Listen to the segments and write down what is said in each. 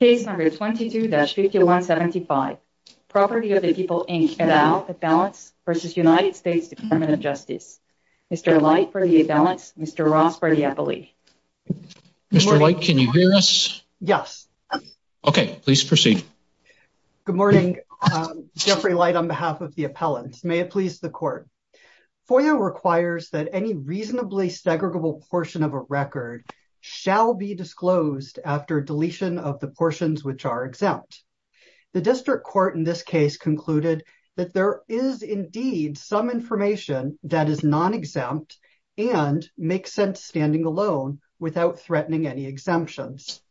Case No. 22-5175, Property of the People, Inc. et al., Appellants v. United States Department of Justice. Mr. Light for the Appellants, Mr. Ross for the Appellee. Mr. Light, can you hear us? Yes. Okay, please proceed. Good morning, Jeffrey Light on behalf of the Appellants. May it please the Court. FOIA requires that any reasonably segregable portion of a record shall be disclosed after deletion of the portions which are exempt. The District Court in this case concluded that there is indeed some information that is non-exempt and makes sense standing alone without threatening any exemptions.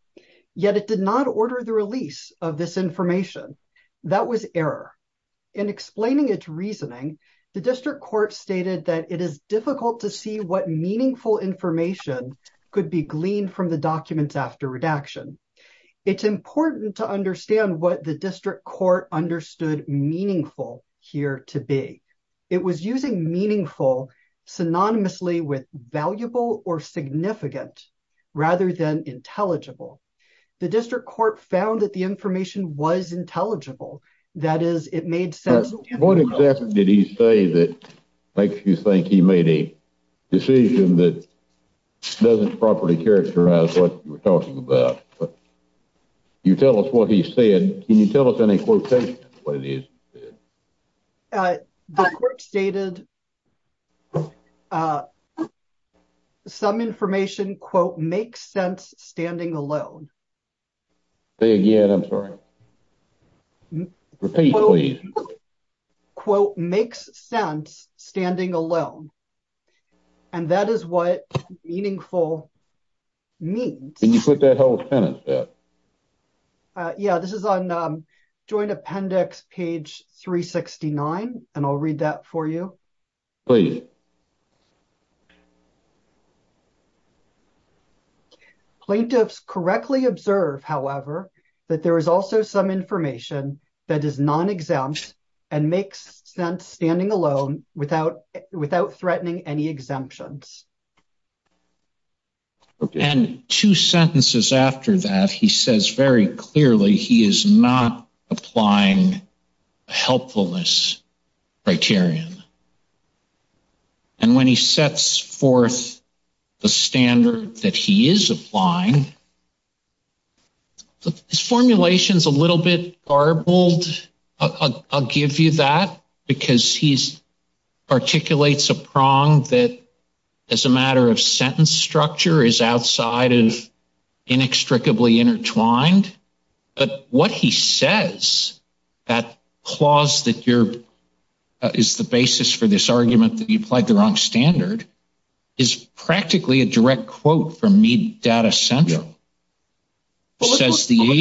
Yet it did not order the release of this information. That was error. In explaining its reasoning, the District Court stated that it is difficult to see what meaningful information could be gleaned from the documents after redaction. It's important to understand what the District Court understood meaningful here to be. It was using meaningful synonymously with valuable or significant rather than intelligible. The District Court found that the information was intelligible. That is, it made sense. What exactly did he say that makes you think he made a decision that doesn't properly characterize what you were talking about? You tell us what he said. Can you tell us in a quotation what it is? The Court stated some information, quote, makes sense standing alone. Say again, I'm sorry. Repeat, please. Quote, makes sense standing alone. And that is what meaningful means. Can you put that whole sentence there? Yeah, this is on Joint Appendix page 369, and I'll read that for you. Please. Plaintiffs correctly observe, however, that there is also some information that is non-exempt and makes sense standing alone without threatening any exemptions. And two sentences after that, he says very clearly he is not applying a helpfulness criterion. And when he sets forth the standard that he is applying, his formulation is a little bit garbled. I'll give you that, because he articulates a prong that, as a matter of sentence structure, is outside of inextricably intertwined. But what he says, that clause that is the basis for this argument that you applied the wrong standard, is practically a direct quote from Mead Data Central. Says the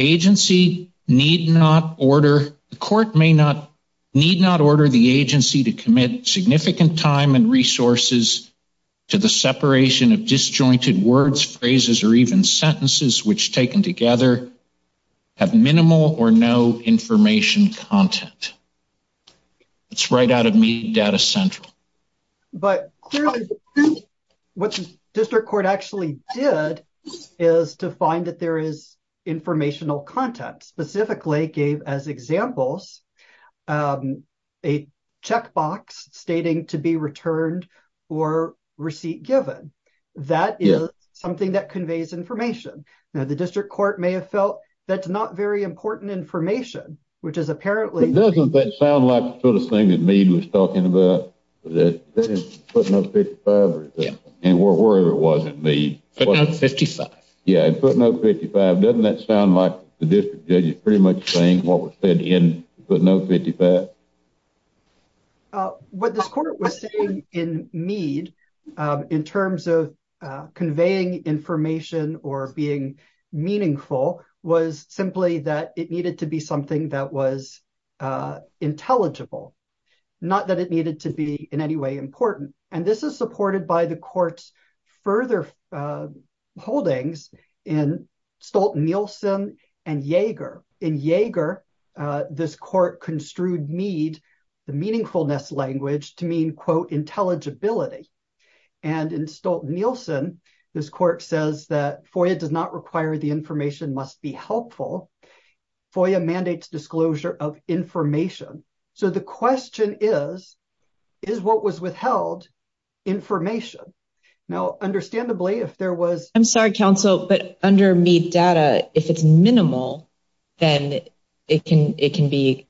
agency need not order, the court may not, need not order the agency to commit significant time and resources to the separation of disjointed words, phrases, or even sentences which, taken together, have minimal or no information content. It's right out of Mead Data Central. But clearly, what the district court actually did is to find that there is informational content, specifically gave as examples a checkbox stating to be returned or receipt given. That is something that conveys information. Now, the district court may have felt that's not very important information, which is apparently... That is footnote 55 or something. And wherever it was in Mead. Footnote 55. Yeah, footnote 55. Doesn't that sound like the district judge is pretty much saying what was said in footnote 55? What this court was saying in Mead, in terms of conveying information or being meaningful, was simply that it needed to be something that was intelligible. Not that it needed to be in any way important. And this is supported by the court's further holdings in Stolt-Nielsen and Yeager. In Yeager, this court construed Mead, the meaningfulness language, to mean, quote, intelligibility. And in Stolt-Nielsen, this court says that FOIA does not require the information must be helpful. FOIA mandates disclosure of information. So the question is, is what was withheld information? Now, understandably, if there was... I'm sorry, counsel, but under Mead data, if it's minimal, then it can be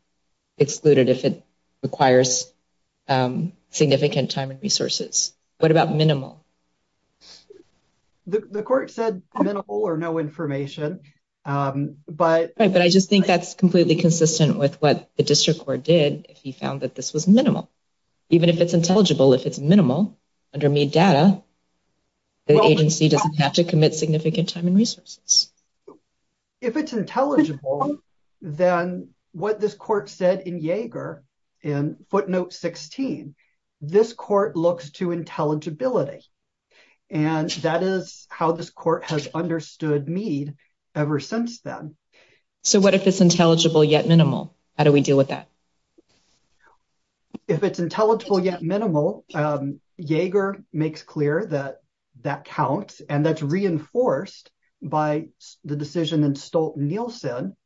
excluded if it requires significant time and resources. What about minimal? The court said minimal or no information, but... He found that this was minimal. Even if it's intelligible, if it's minimal, under Mead data, the agency doesn't have to commit significant time and resources. If it's intelligible, then what this court said in Yeager, in footnote 16, this court looks to intelligibility. And that is how this court has understood Mead ever since then. So what if it's intelligible yet minimal? How do we deal with that? If it's intelligible yet minimal, Yeager makes clear that that counts and that's reinforced by the decision in Stolt-Nielsen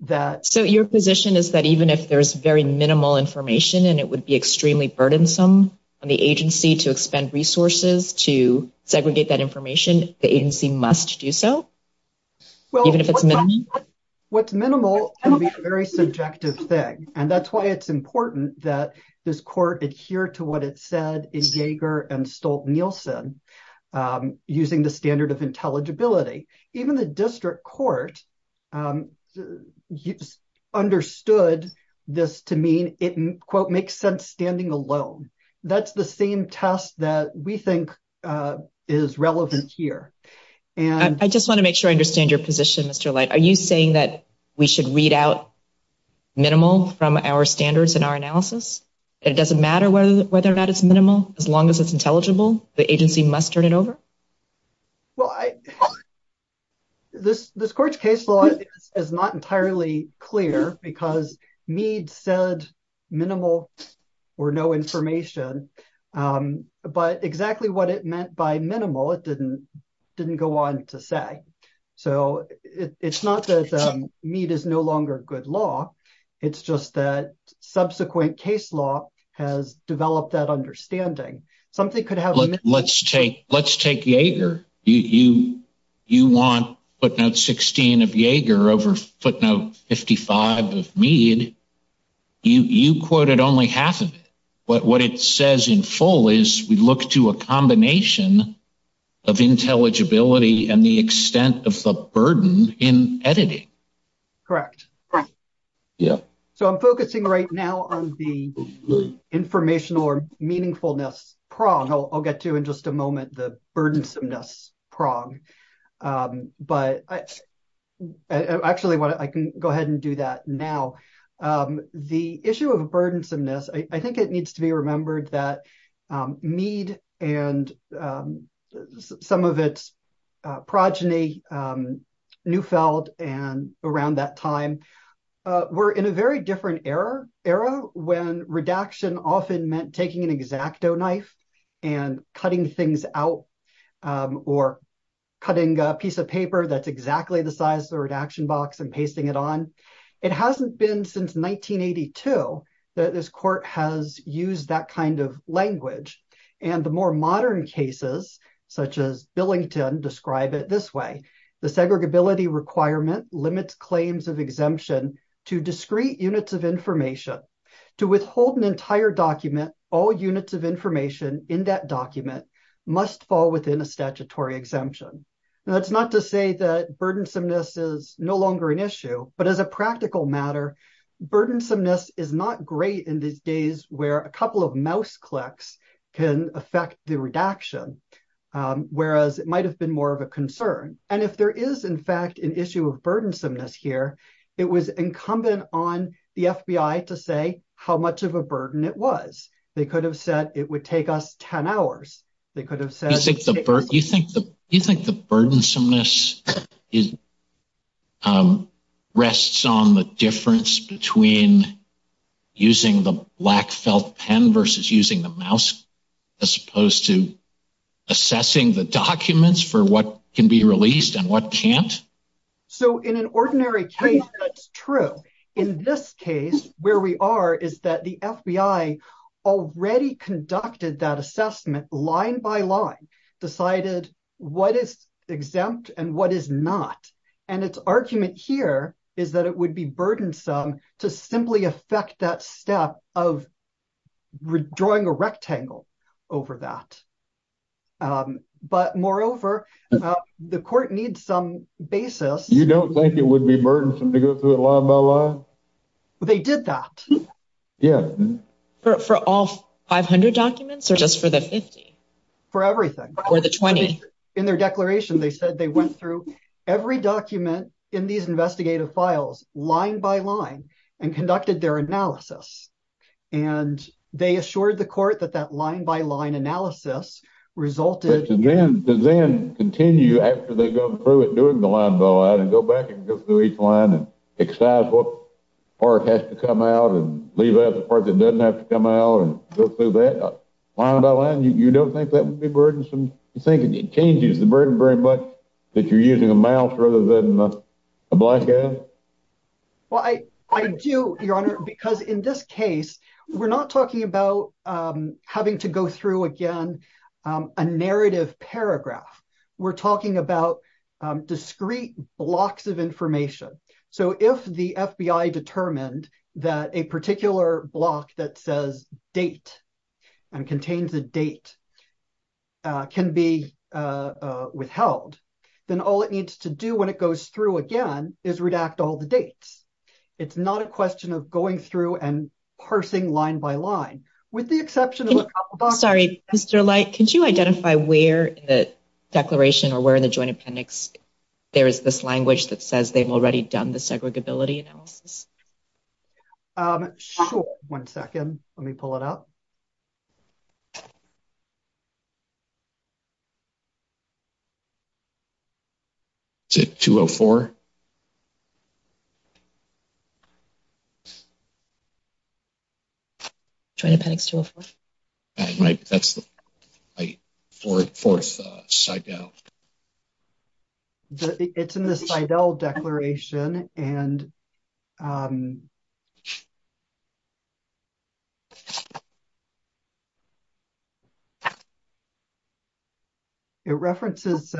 that... So your position is that even if there's very minimal information and it would be extremely burdensome on the agency to expend resources to segregate that information, the agency must do so? Well, what's minimal can be a very subjective thing. And that's why it's important that this court adhere to what it said in Yeager and Stolt-Nielsen using the standard of intelligibility. Even the district court understood this to mean it, quote, makes sense standing alone. That's the same test that we think is relevant here. I just want to make sure I understand your position, Mr. Light. Are you saying that we should read out minimal from our standards in our analysis? It doesn't matter whether or not it's minimal, as long as it's intelligible, the agency must turn it over? Well, this court's case law is not entirely clear because Mead said minimal or no information. But exactly what it meant by minimal, it didn't go on to say. So it's not that Mead is no longer a good law. It's just that subsequent case law has developed that understanding. Something could happen. Let's take Yeager. You want footnote 16 of Yeager over footnote 55 of Mead. You quoted only half of it. But what it says in full is we look to a combination of intelligibility and the extent of the burden in editing. Correct. So I'm focusing right now on the informational or meaningfulness prong. I'll get to in just a moment the burdensomeness prong. But actually, I can go ahead and do that now. The issue of burdensomeness, I think it needs to be remembered that some of its progeny, Neufeld and around that time, were in a very different era when redaction often meant taking an exacto knife and cutting things out or cutting a piece of paper that's exactly the size of the redaction box and pasting it on. It hasn't been since 1982 that this court has used that kind of language. And the more modern cases, such as Billington, describe it this way. The segregability requirement limits claims of exemption to discrete units of information. To withhold an entire document, all units of information in that document must fall within a statutory exemption. Now, that's not to say that burdensomeness is no longer an issue. But as a practical matter, burdensomeness is not great in these days where a couple of mouse clicks can affect the redaction, whereas it might have been more of a concern. And if there is, in fact, an issue of burdensomeness here, it was incumbent on the FBI to say how much of a burden it was. They could have said it would take us 10 hours. They could have said- Do you think the burdensomeness rests on the difference between using the black felt pen versus using the mouse, as opposed to assessing the documents for what can be released and what can't? So, in an ordinary case, that's true. In this case, where we are is that the FBI already conducted that assessment line by line, decided what is exempt and what is not. And its argument here is that it would be burdensome to simply affect that step of drawing a rectangle over that. But moreover, the court needs some basis- You don't think it would be burdensome to go through it line by line? They did that. Yeah. For all 500 documents or just for the 50? For everything. Or the 20? In their declaration, they said they went through every document in these investigative files line by line and conducted their analysis. And they assured the court that that line by line analysis resulted- But to then continue after they go through it, doing the line by line, and go back and go through each line and excise what part has to come out and leave out the part that doesn't have to come out and go through that line by line, you don't think that would be burdensome? You think it changes the burden very much that you're using a mouse rather than a black guy? Well, I do, Your Honor, because in this case, we're not talking about having to go through, again, a narrative paragraph. We're talking about discrete blocks of information. So if the FBI determined that a particular block that says date and contains a date can be withheld, then all it needs to do when it goes through again is redact all the dates. It's not a question of going through and parsing line by line. With the exception of a couple of- Sorry, Mr. Light. Could you identify where the declaration or where in the Joint Appendix there is this language that says they've already done the segregability analysis? Sure. One second. Let me pull it up. Is it 204? Joint Appendix 204. That's the fourth CIDEL. It's in the CIDEL declaration and it references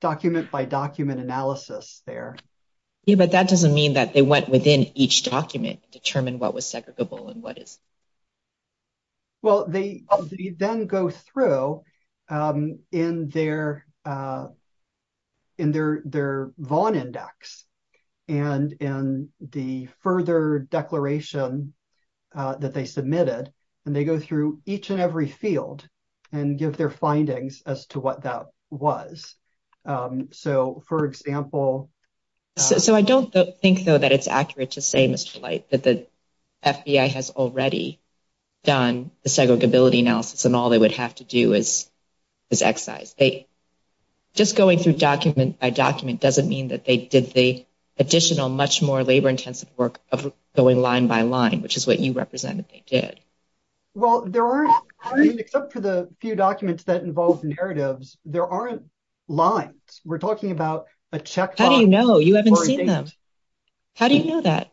document-by-document analysis there. Yeah, but that doesn't mean that they went within each document to determine what was segregable and what isn't. Well, they then go through in their VON index and in the further declaration that they submitted, and they go through each and every field and give their findings as to what that was. So, for example- So I don't think, though, that it's accurate to say, Mr. Light, that the FBI has already done the segregability analysis and all they would have to do is excise. Just going through document-by-document doesn't mean that they did the additional, much more labor-intensive work of going line-by-line, which is what you represented they did. Well, there aren't, I mean, except for the few documents that involve narratives, there aren't lines. We're talking about a check- How do you know? You haven't seen them. How do you know that?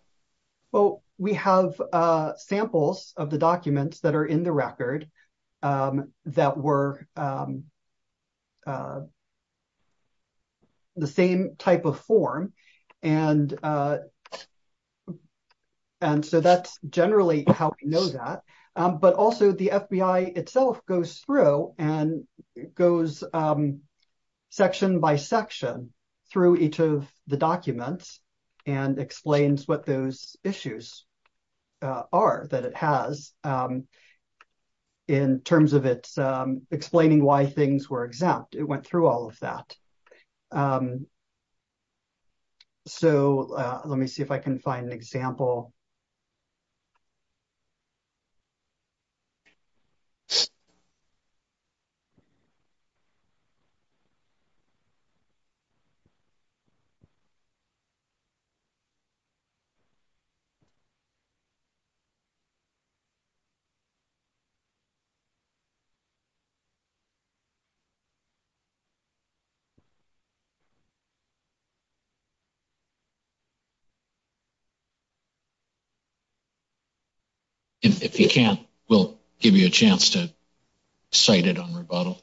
Well, we have samples of the documents that are in the record that were the same type of form, and so that's generally how we know that. But also, the FBI itself goes through and goes section-by-section through each of the documents and explains what those issues are that it has. In terms of it explaining why things were exempt, it went through all of that. So let me see if I can find an example. If you can't, we'll give you a chance to cite it on rebuttal.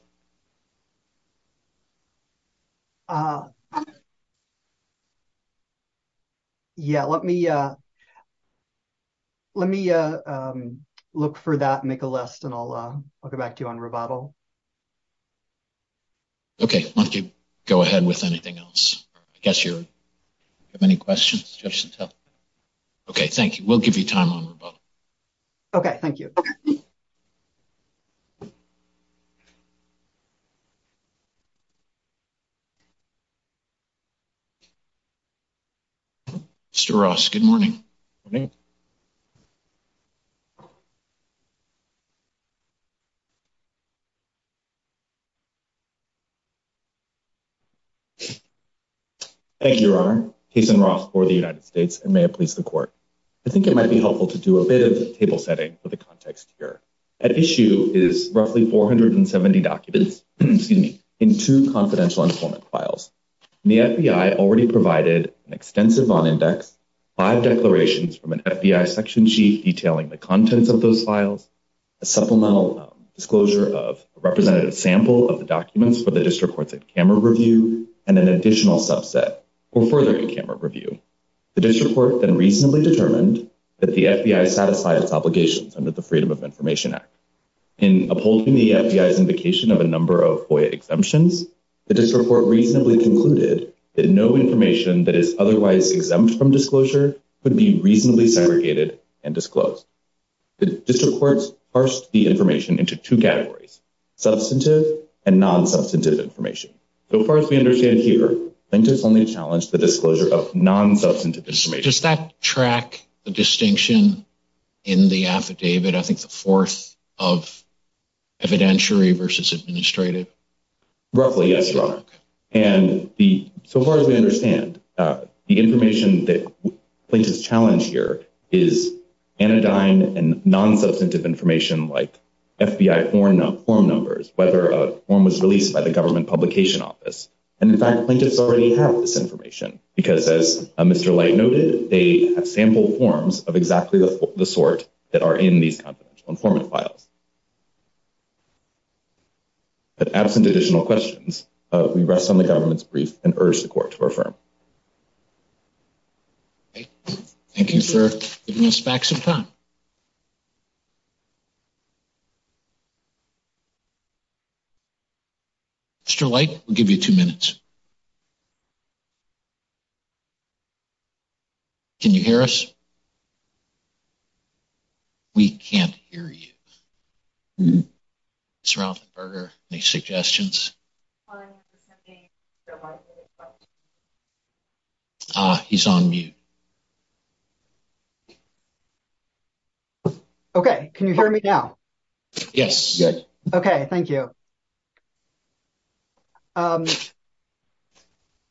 Yeah, let me look for that, make a list, and I'll get back to you on rebuttal. Okay, why don't you go ahead with anything else? I guess you have any questions, Judge Santel? Okay, thank you. We'll give you time on rebuttal. Okay, thank you. Mr. Ross, good morning. Good morning. Thank you, Your Honor. Jason Ross for the United States, and may it please the Court. I think it might be helpful to do a bit of table setting for the context here. At issue is roughly 470 documents, excuse me, in two confidential informant files. The FBI already provided an extensive bond index, five declarations from an FBI section chief detailing the contents of those files, a supplemental disclosure of a representative sample of the documents for the district courts at camera review, and an additional subset for further camera review. The district court then reasonably determined that the FBI satisfied its obligations under the Freedom of Information Act. In upholding the FBI's indication of a number of FOIA exemptions, the district court reasonably concluded that no information that is otherwise exempt from disclosure could be reasonably segregated and disclosed. The district courts parsed the information into two categories, substantive and non-substantive information. So far as we understand here, plaintiffs only challenged the disclosure of non-substantive information. Does that track the distinction in the affidavit? I think the fourth of evidentiary versus administrative. Roughly, yes, Your Honor. And the, so far as we understand, the information that plaintiffs challenge here is anodyne and non-substantive information like FBI form numbers, whether a form was released by the government publication office. And in fact, plaintiffs already have this information because, as Mr. Light noted, they have sampled forms of exactly the sort that are in these confidential informant files. But absent additional questions, we rest on the government's brief and urge the court to refer. Thank you, sir. Give us back some time. Mr. Light, we'll give you two minutes. Can you hear us? We can't hear you. Ms. Rauffenberger, any suggestions? He's on mute. Okay. Can you hear me now? Yes. Okay. Thank you.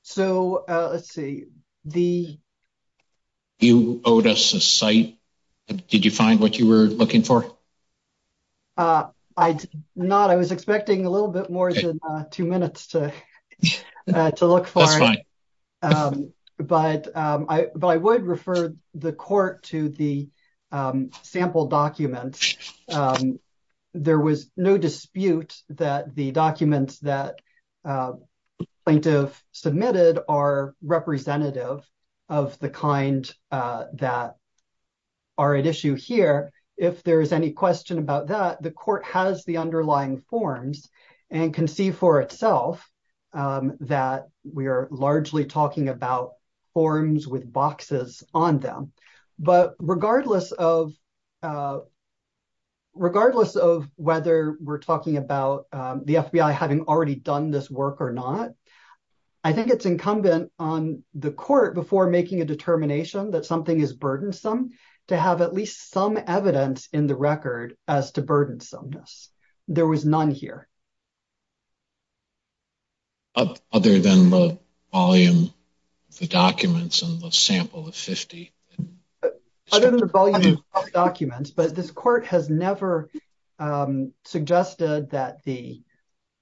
So, let's see. You owed us a cite. Did you find what you were looking for? I did not. I was expecting a little bit more than two minutes to look for it. That's fine. But I would refer the court to the sample documents. There was no dispute that the documents that the plaintiff submitted are representative of the kind that are at issue here. If there is any question about that, the court has the underlying forms and can see for itself that we are largely talking about forms with boxes on them. But regardless of whether we're talking about the FBI having already done this work or not, I think it's incumbent on the court, before making a determination that something is burdensome, to have at least some evidence in the record as to burdensomeness. There was none here. Other than the volume of the documents and the sample of 50. Other than the volume of the documents. But this court has never suggested that the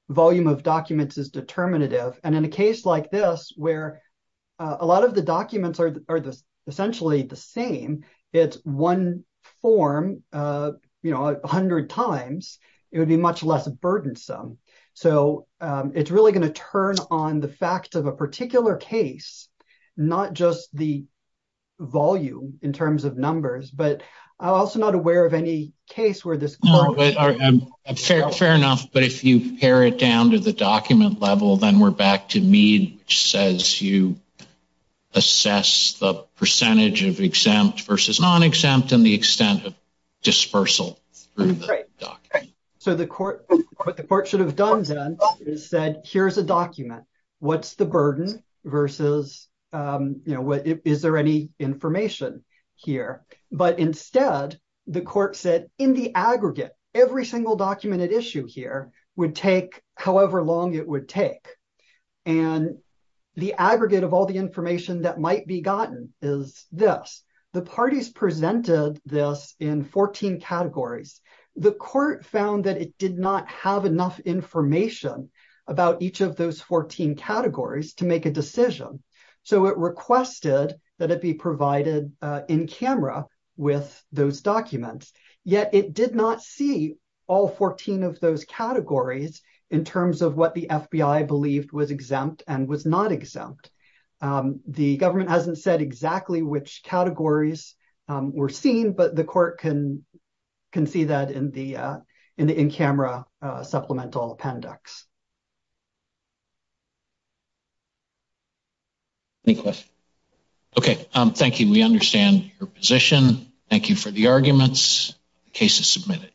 volume of documents is determinative. And in a case like this, where a lot of the documents are essentially the same, it's one form, you know, 100 times, it would be much less burdensome. So it's really going to turn on the fact of a particular case, not just the volume in terms of numbers, but I'm also not aware of any case where this. Fair enough. But if you pare it down to the document level, then we're back to Mead, which says you assess the percentage of exempt versus non-exempt and the extent of dispersal. So the court, what the court should have done then is said, here's a document, what's the burden versus, you know, is there any information here? But instead, the court said, in the aggregate, every single document at issue here would take however long it would take. And the aggregate of all the information that might be gotten is this. The parties presented this in 14 categories. The court found that it did not have enough information about each of those 14 categories to make a decision. So it requested that it be provided in camera with those documents. Yet it did not see all 14 of those categories in terms of what the FBI believed was exempt and was not exempt. The government hasn't said exactly which categories were seen, but the court can see that in the in-camera supplemental appendix. Any questions? Okay, thank you. We understand your position. Thank you for the arguments. The case is submitted.